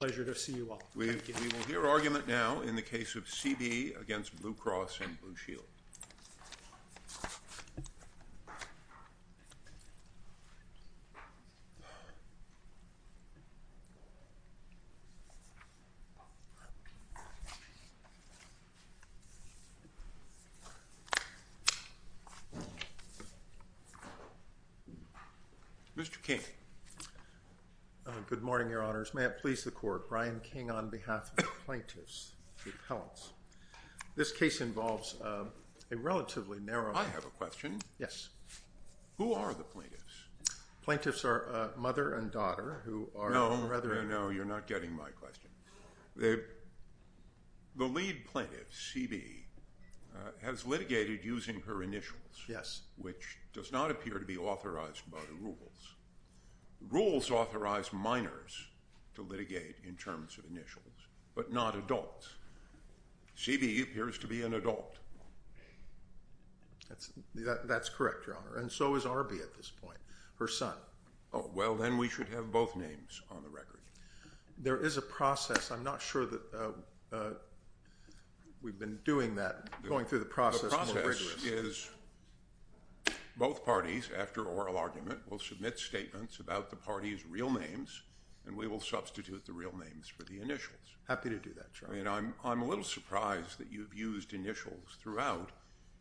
Pleasure to see you all. Thank you. We will hear argument now in the case of C.B. against Blue Cross and Blue Shield. Mr. King. Good morning, Your Honors. May it please the Court. Brian King on behalf of the plaintiffs, the appellants. This case involves a relatively narrow... I have a question. Yes. Who are the plaintiffs? Plaintiffs are mother and daughter who are... No, no, no. You're not getting my question. The lead plaintiff, C.B., has litigated using her initials... Yes. ...which does not appear to be authorized by the rules. Rules authorize minors to litigate in terms of initials, but not adults. C.B. appears to be an adult. That's correct, Your Honor, and so is Arby at this point, her son. Oh, well, then we should have both names on the record. There is a process. I'm not sure that we've been doing that, going through the process more rigorously. Both parties, after oral argument, will submit statements about the parties' real names, and we will substitute the real names for the initials. Happy to do that, Your Honor. I'm a little surprised that you've used initials throughout,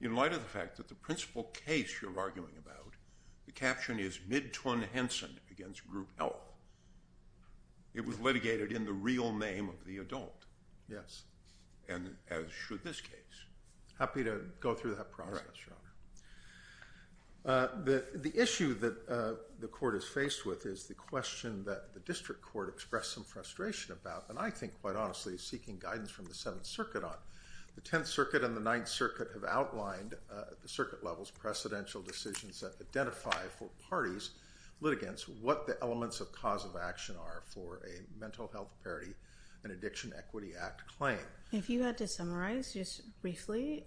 in light of the fact that the principal case you're arguing about, the caption is Midtwin-Henson against Group Health. It was litigated in the real name of the adult. Yes. And as should this case. Happy to go through that process, Your Honor. The issue that the court is faced with is the question that the district court expressed some frustration about, and I think, quite honestly, is seeking guidance from the Seventh Circuit on. The Tenth Circuit and the Ninth Circuit have outlined, at the circuit levels, precedential decisions that identify for parties, litigants, what the elements of cause of action are for a Mental Health Parity and Addiction Equity Act claim. If you had to summarize, just briefly,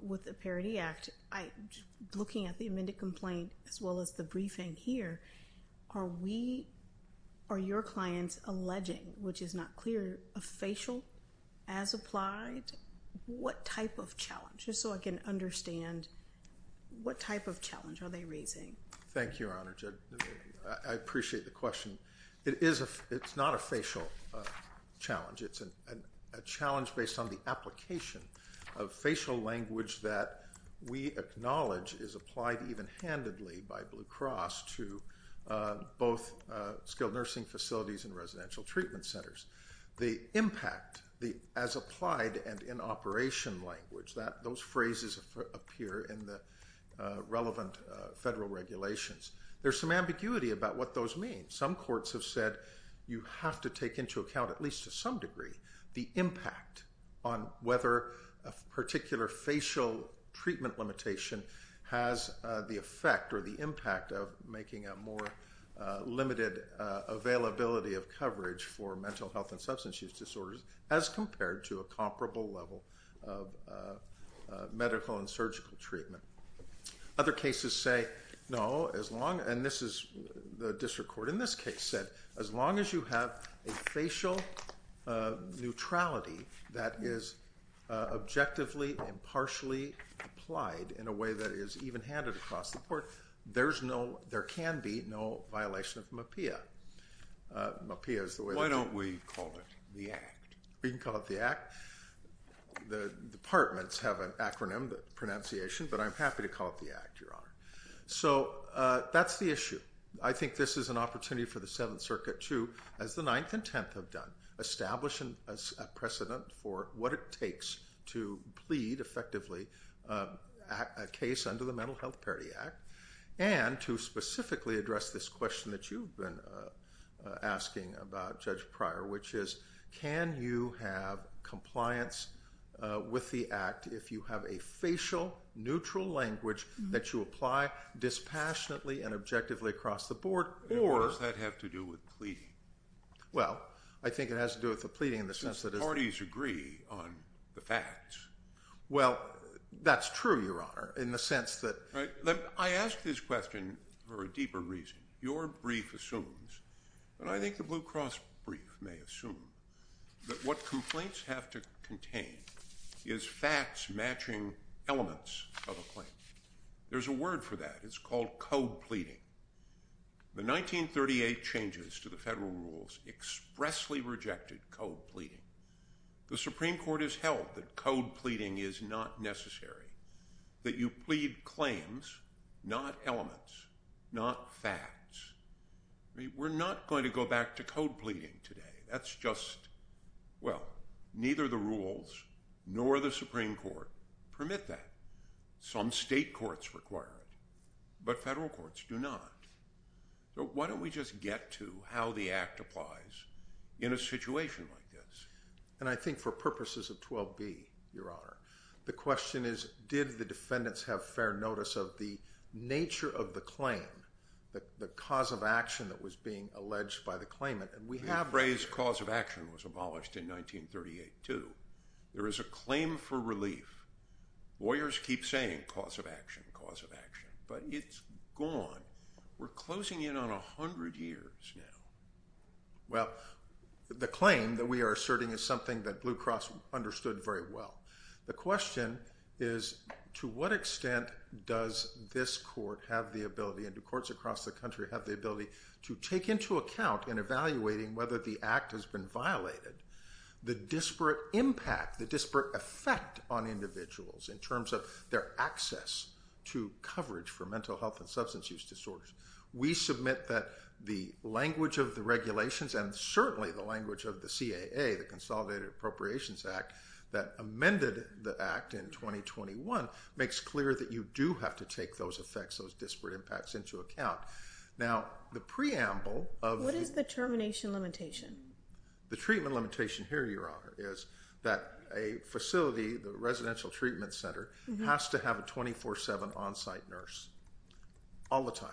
with the Parity Act, looking at the amended complaint as well as the briefing here, are your clients alleging, which is not clear, a facial as applied? What type of challenge? Just so I can understand, what type of challenge are they raising? Thank you, Your Honor. I appreciate the question. It's not a facial challenge. It's a challenge based on the application of facial language that we acknowledge is applied even-handedly by Blue Cross to both skilled nursing facilities and residential treatment centers. The impact, as applied and in operation language, those phrases appear in the relevant federal regulations. There's some ambiguity about what those mean. Some courts have said you have to take into account, at least to some degree, the impact on whether a particular facial treatment limitation has the effect or the impact of making a more limited availability of coverage for mental health and substance use disorders as compared to a comparable level of medical and surgical treatment. Other cases say no, and this is the district court in this case said, as long as you have a facial neutrality that is objectively and partially applied in a way that is even-handed across the board, there can be no violation of MHPAEA. Why don't we call it the Act? We can call it the Act. The departments have an acronym, the pronunciation, but I'm happy to call it the Act, Your Honor. So that's the issue. I think this is an opportunity for the Seventh Circuit to, as the Ninth and Tenth have done, establish a precedent for what it takes to plead effectively a case under the Mental Health Parity Act and to specifically address this question that you've been asking about, Judge Pryor, which is can you have compliance with the Act if you have a facial, neutral language that you apply dispassionately and objectively across the board, or... What does that have to do with pleading? Well, I think it has to do with the pleading in the sense that... Because the parties agree on the facts. Well, that's true, Your Honor, in the sense that... I ask this question for a deeper reason. Your brief assumes, and I think the Blue Cross brief may assume, that what complaints have to contain is facts matching elements of a claim. There's a word for that. It's called code pleading. The 1938 changes to the federal rules expressly rejected code pleading. The Supreme Court has held that code pleading is not necessary, that you plead claims, not elements, not facts. We're not going to go back to code pleading today. That's just... Well, neither the rules nor the Supreme Court permit that. Some state courts require it, but federal courts do not. So why don't we just get to how the Act applies in a situation like this? And I think for purposes of 12b, Your Honor, the question is did the defendants have fair notice of the nature of the claim, the cause of action that was being alleged by the claimant? And we have... The phrase cause of action was abolished in 1938, too. There is a claim for relief. Lawyers keep saying cause of action, cause of action, but it's gone. We're closing in on 100 years now. Well, the claim that we are asserting is something that Blue Cross understood very well, the question is to what extent does this court have the ability and do courts across the country have the ability to take into account in evaluating whether the Act has been violated the disparate impact, the disparate effect on individuals in terms of their access to coverage for mental health and substance use disorders? We submit that the language of the regulations and certainly the language of the CAA, the Consolidated Appropriations Act, that amended the Act in 2021 makes clear that you do have to take those effects, those disparate impacts, into account. Now, the preamble of... What is the termination limitation? The treatment limitation here, Your Honor, is that a facility, the residential treatment center, has to have a 24-7 on-site nurse all the time.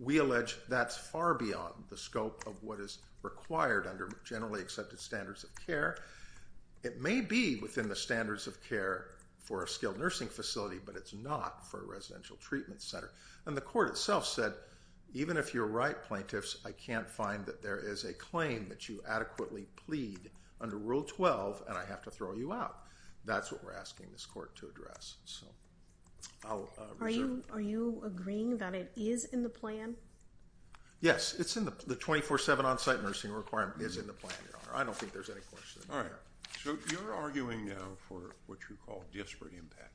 We allege that's far beyond the scope of what is required under generally accepted standards of care. It may be within the standards of care for a skilled nursing facility, but it's not for a residential treatment center. And the court itself said, even if you're right, plaintiffs, I can't find that there is a claim that you adequately plead under Rule 12 and I have to throw you out. That's what we're asking this court to address. So I'll reserve... Are you agreeing that it is in the plan? Yes, it's in the... The 24-7 on-site nursing requirement is in the plan, Your Honor. I don't think there's any question there. So you're arguing now for what you call disparate impact.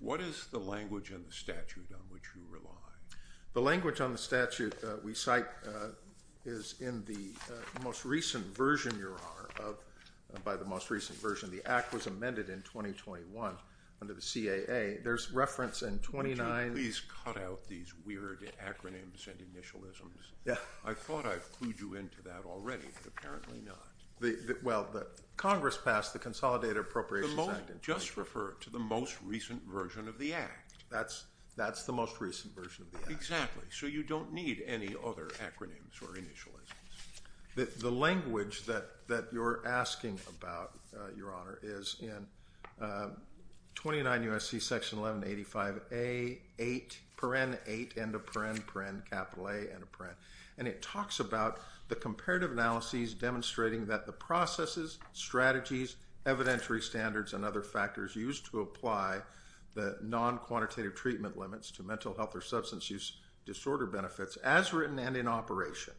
What is the language and the statute on which you rely? The language on the statute we cite is in the most recent version, Your Honor, by the most recent version. The Act was amended in 2021 under the CAA. There's reference in 29... Would you please cut out these weird acronyms and initialisms? Yeah. I thought I've clued you into that already, but apparently not. Well, Congress passed the Consolidated Appropriations Act. Just refer to the most recent version of the Act. That's the most recent version of the Act. Exactly. So you don't need any other acronyms or initialisms. The language that you're asking about, Your Honor, is in 29 U.S.C. Section 1185A, 8, paren, 8, end of paren, paren, capital A, end of paren. And it talks about the comparative analyses demonstrating that the processes, strategies, evidentiary standards, and other factors used to apply the non-quantitative treatment limits to mental health or substance use disorder benefits, as written and in operation,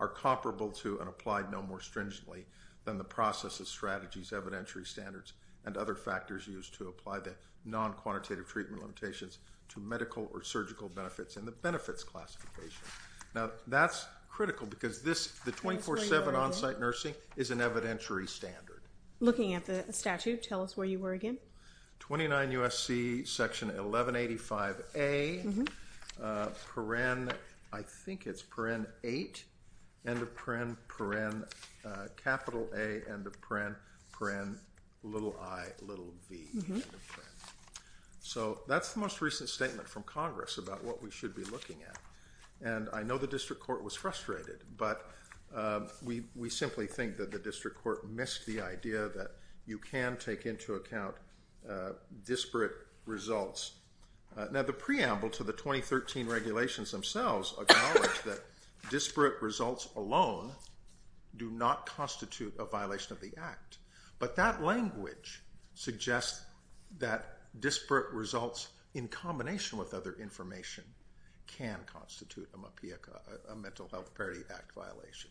are comparable to and applied no more stringently than the processes, strategies, evidentiary standards, and other factors used to apply the non-quantitative treatment limitations to medical or surgical benefits in the benefits classification. Now, that's critical because the 24-7 on-site nursing is an evidentiary standard. Looking at the statute, tell us where you were again. 29 U.S.C. Section 1185A, paren, I think it's paren, 8, end of paren, paren, capital A, end of paren, paren, little i, little v, end of paren. So that's the most recent statement from Congress about what we should be looking at. And I know the district court was frustrated, but we simply think that the district court missed the idea that you can take into account disparate results. Now, the preamble to the 2013 regulations themselves acknowledge that disparate results alone do not constitute a violation of the Act, but that language suggests that disparate results in combination with other information can constitute a Mental Health Parity Act violation.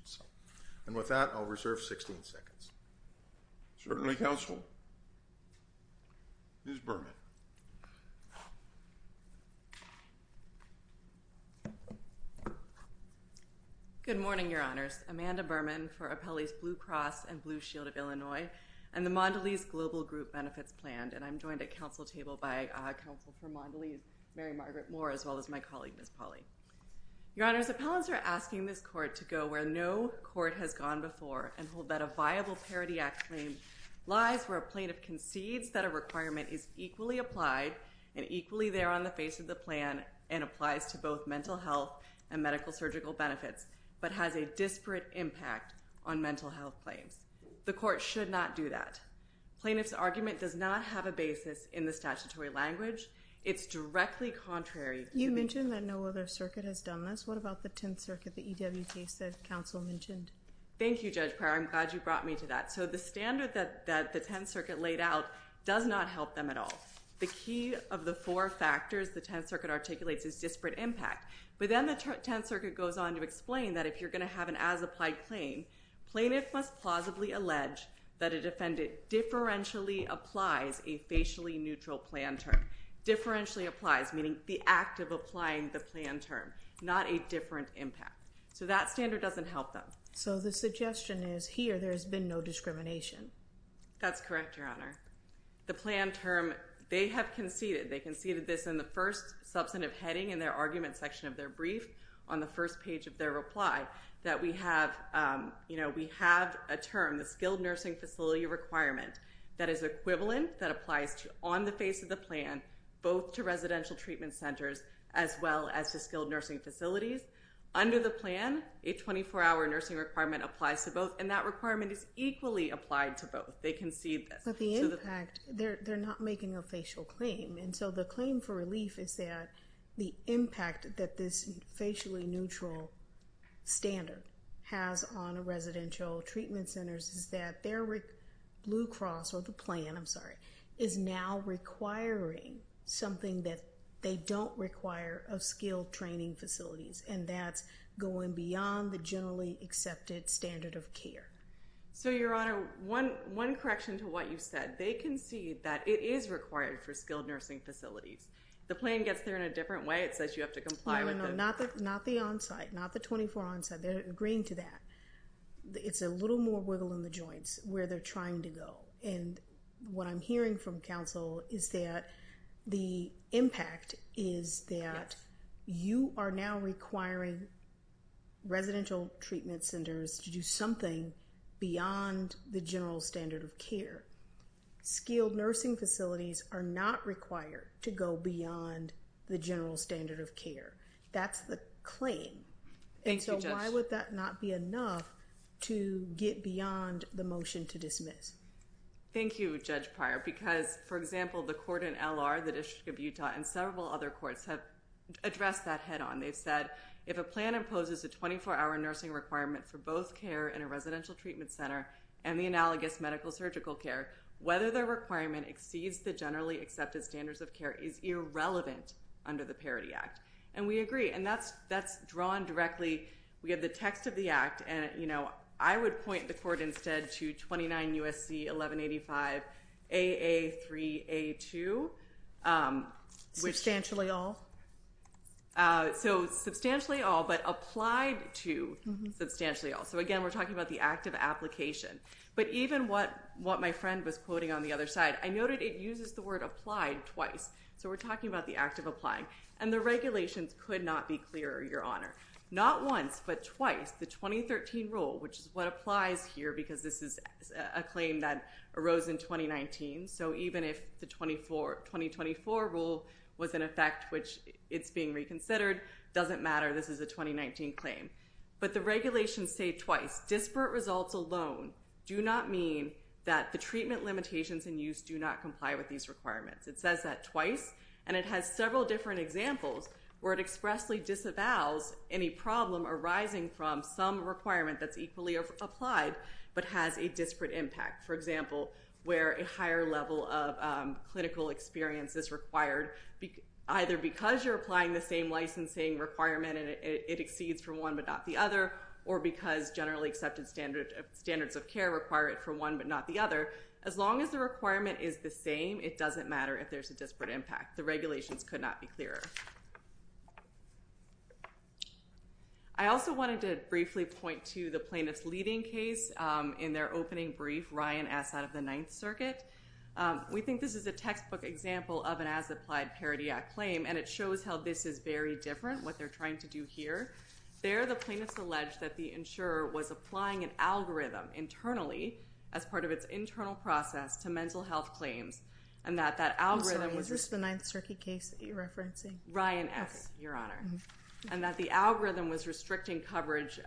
And with that, I'll reserve 16 seconds. Certainly, counsel. Ms. Berman. Good morning, Your Honors. Amanda Berman for Appellees Blue Cross and Blue Shield of Illinois and the Mondelez Global Group Benefits Plan, and I'm joined at council table by Counsel for Mondelez, Mary Margaret Moore, as well as my colleague, Ms. Pauley. Your Honors, appellants are asking this court to go where no court has gone before and hold that a viable Parity Act claim lies where a plaintiff concedes that a requirement is equally applied and equally there on the face of the plan and applies to both mental health and medical-surgical benefits, but has a disparate impact on mental health claims. The court should not do that. Plaintiff's argument does not have a basis in the statutory language. It's directly contrary. You mentioned that no other circuit has done this. What about the Tenth Circuit, the EWT, as counsel mentioned? Thank you, Judge Pryor. I'm glad you brought me to that. So the standard that the Tenth Circuit laid out does not help them at all. The key of the four factors the Tenth Circuit articulates is disparate impact. But then the Tenth Circuit goes on to explain that if you're going to have an as-applied claim, plaintiff must plausibly allege that a defendant differentially applies a facially neutral plan term. Differentially applies, meaning the act of applying the plan term, not a different impact. So that standard doesn't help them. So the suggestion is here there has been no discrimination. That's correct, Your Honor. The plan term, they have conceded, they conceded this in the first substantive heading in their argument section of their brief, on the first page of their reply, that we have a term, the skilled nursing facility requirement, that is equivalent, that applies on the face of the plan, both to residential treatment centers as well as to skilled nursing facilities. Under the plan, a 24-hour nursing requirement applies to both, and that requirement is equally applied to both. They concede this. But the impact, they're not making a facial claim, and so the claim for relief is that the impact that this facially neutral standard has on residential treatment centers is that their Blue Cross, or the plan, I'm sorry, is now requiring something that they don't require of skilled training facilities, and that's going beyond the generally accepted standard of care. So, Your Honor, one correction to what you said. They concede that it is required for skilled nursing facilities. The plan gets there in a different way. It says you have to comply with it. No, no, no, not the onsite, not the 24 onsite. They're agreeing to that. It's a little more wiggle in the joints where they're trying to go. And what I'm hearing from counsel is that the impact is that you are now requiring residential treatment centers to do something beyond the general standard of care. Skilled nursing facilities are not required to go beyond the general standard of care. That's the claim. Thank you, Judge. And so why would that not be enough to get beyond the motion to dismiss? Thank you, Judge Pryor, because, for example, the court in L.R., the District of Utah, and several other courts have addressed that head on. They've said, if a plan imposes a 24-hour nursing requirement for both care in a residential treatment center and the analogous medical-surgical care, whether the requirement exceeds the generally accepted standards of care is irrelevant under the Parity Act. And we agree, and that's drawn directly. We have the text of the act, and, you know, I would point the court instead to 29 U.S.C. 1185 AA3A2. Substantially all? So substantially all, but applied to substantially all. So, again, we're talking about the act of application. But even what my friend was quoting on the other side, I noted it uses the word applied twice. So we're talking about the act of applying. And the regulations could not be clearer, Your Honor. Not once, but twice, the 2013 rule, which is what applies here because this is a claim that arose in 2019. So even if the 2024 rule was in effect, which it's being reconsidered, doesn't matter, this is a 2019 claim. But the regulations say twice. Disparate results alone do not mean that the treatment limitations in use do not comply with these requirements. It says that twice, and it has several different examples where it expressly disavows any problem arising from some requirement that's equally applied but has a disparate impact. For example, where a higher level of clinical experience is required, either because you're applying the same licensing requirement and it exceeds from one but not the other, or because generally accepted standards of care require it from one but not the other. As long as the requirement is the same, it doesn't matter if there's a disparate impact. The regulations could not be clearer. I also wanted to briefly point to the plaintiff's leading case in their opening brief, Ryan Assad of the Ninth Circuit. We think this is a textbook example of an as-applied parity act claim, and it shows how this is very different, what they're trying to do here. There the plaintiff's alleged that the insurer was applying an algorithm internally as part of its internal process to mental health claims and that that algorithm was... I'm sorry, is this the Ninth Circuit case that you're referencing? Ryan Assad, Your Honor, and that the algorithm was restricting coverage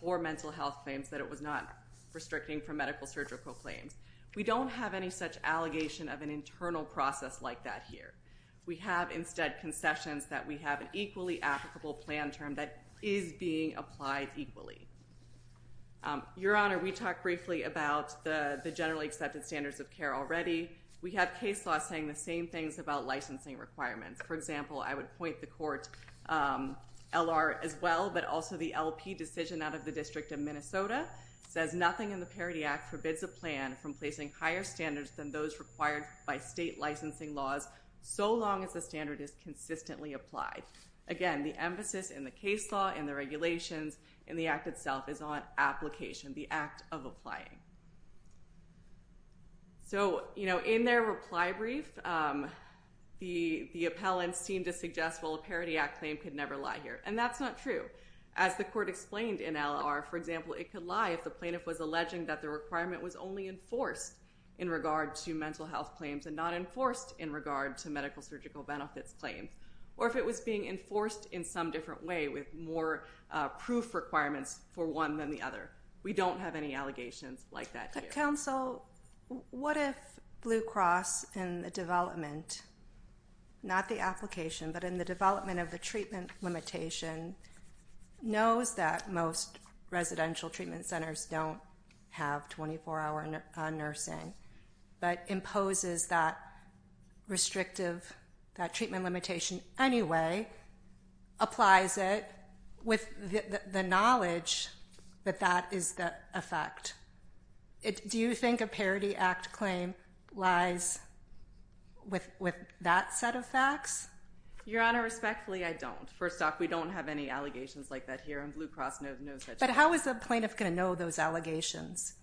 for mental health claims, that it was not restricting for medical surgical claims. We don't have any such allegation of an internal process like that here. We have instead concessions that we have an equally applicable plan term that is being applied equally. Your Honor, we talked briefly about the generally accepted standards of care already. We have case laws saying the same things about licensing requirements. For example, I would point the court L.R. as well, but also the LP decision out of the District of Minnesota says nothing in the parity act forbids a plan from placing higher standards than those required by state licensing laws so long as the standard is consistently applied. Again, the emphasis in the case law, in the regulations, in the act itself is on application, the act of applying. So, you know, in their reply brief, the appellants seem to suggest, well, a parity act claim could never lie here, and that's not true. As the court explained in L.R., for example, it could lie if the plaintiff was alleging that the requirement was only enforced in regard to mental health claims and not enforced in regard to medical surgical benefits claims, or if it was being enforced in some different way with more proof requirements for one than the other. We don't have any allegations like that here. Counsel, what if Blue Cross, in the development, not the application, but in the development of the treatment limitation, knows that most residential treatment centers don't have 24-hour nursing but imposes that restrictive, that treatment limitation anyway, applies it with the knowledge that that is the effect? Do you think a parity act claim lies with that set of facts? Your Honor, respectfully, I don't. First off, we don't have any allegations like that here, and Blue Cross knows that. But how is the plaintiff going to know those allegations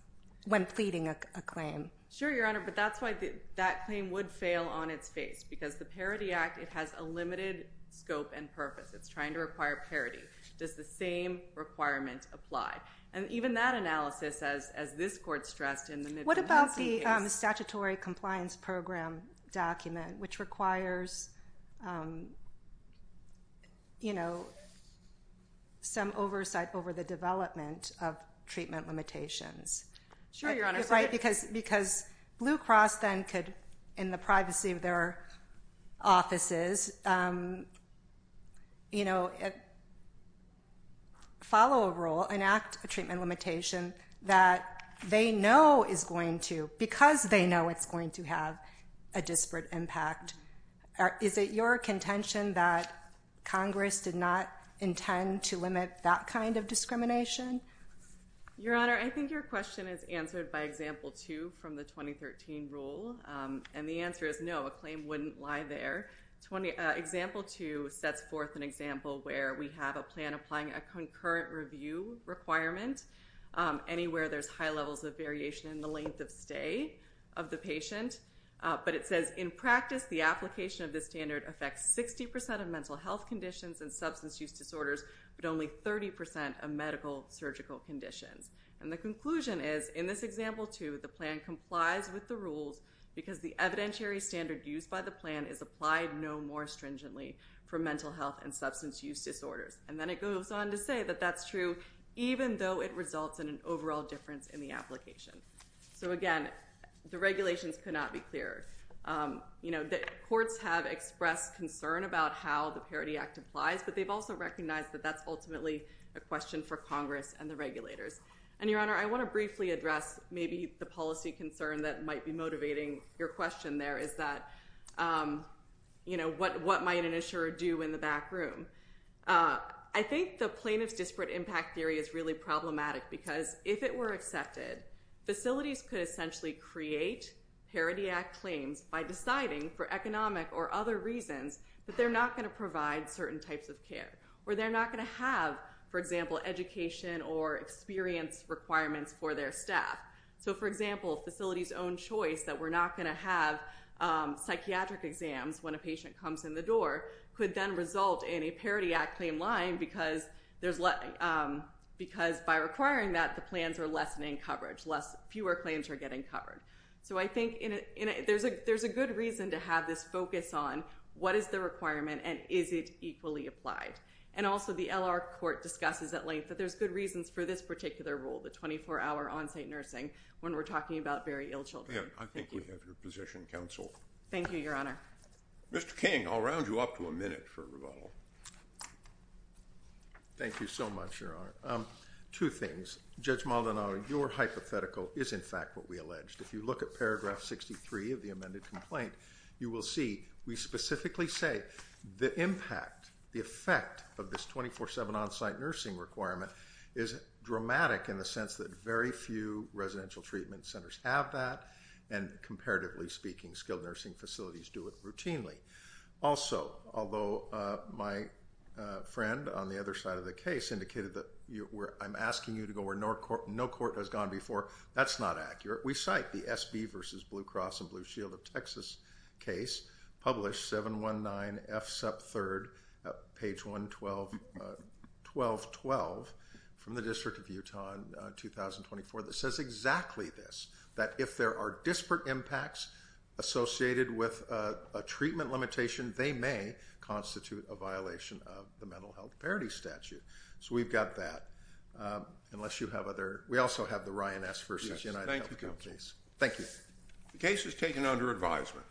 when pleading a claim? Sure, Your Honor, but that's why that claim would fail on its face, because the parity act, it has a limited scope and purpose. It's trying to require parity. Does the same requirement apply? And even that analysis, as this court stressed in the Midland-Hudson case. What about the statutory compliance program document, which requires some oversight over the development of treatment limitations? Sure, Your Honor. Because Blue Cross then could, in the privacy of their offices, follow a rule, enact a treatment limitation that they know is going to, because they know it's going to have a disparate impact. Is it your contention that Congress did not intend to limit that kind of discrimination? Your Honor, I think your question is answered by example two from the 2013 rule. And the answer is no, a claim wouldn't lie there. Example two sets forth an example where we have a plan applying a concurrent review requirement. Anywhere there's high levels of variation in the length of stay of the patient. But it says, in practice, the application of this standard affects 60% of mental health conditions and substance use disorders, but only 30% of medical surgical conditions. And the conclusion is, in this example two, the plan complies with the rules because the evidentiary standard used by the plan is applied no more stringently for mental health and substance use disorders. And then it goes on to say that that's true, even though it results in an overall difference in the application. So, again, the regulations could not be clearer. You know, the courts have expressed concern about how the Parity Act applies, but they've also recognized that that's ultimately a question for Congress and the regulators. And, Your Honor, I want to briefly address maybe the policy concern that might be motivating your question there is that, you know, what might an insurer do in the back room? I think the plaintiff's disparate impact theory is really problematic because if it were accepted, facilities could essentially create Parity Act claims by deciding for economic or other reasons that they're not going to provide certain types of care or they're not going to have, for example, education or experience requirements for their staff. So, for example, a facility's own choice that we're not going to have psychiatric exams when a patient comes in the door could then result in a Parity Act claim lying because by requiring that, the plans are lessening coverage. Fewer claims are getting covered. So I think there's a good reason to have this focus on what is the requirement and is it equally applied. And also the L.R. Court discusses at length that there's good reasons for this particular rule, the 24-hour on-site nursing, when we're talking about very ill children. Yeah, I think we have your position, Counsel. Thank you, Your Honor. Mr. King, I'll round you up to a minute for rebuttal. Thank you so much, Your Honor. Two things. Judge Maldonado, your hypothetical is in fact what we alleged. If you look at paragraph 63 of the amended complaint, you will see we specifically say the impact, the effect of this 24-7 on-site nursing requirement is dramatic in the sense that very few residential treatment centers have that and, comparatively speaking, skilled nursing facilities do it routinely. Also, although my friend on the other side of the case indicated that I'm asking you to go where no court has gone before, that's not accurate. We cite the SB v. Blue Cross and Blue Shield of Texas case, published 719F sub 3rd, page 112-1212, from the District of Utah in 2024, that says exactly this, that if there are disparate impacts associated with a treatment limitation, they may constitute a violation of the Mental Health Parity Statute. So we've got that, unless you have other... We also have the Ryan S v. UnitedHealth Group case. Thank you. The case is taken under advisement.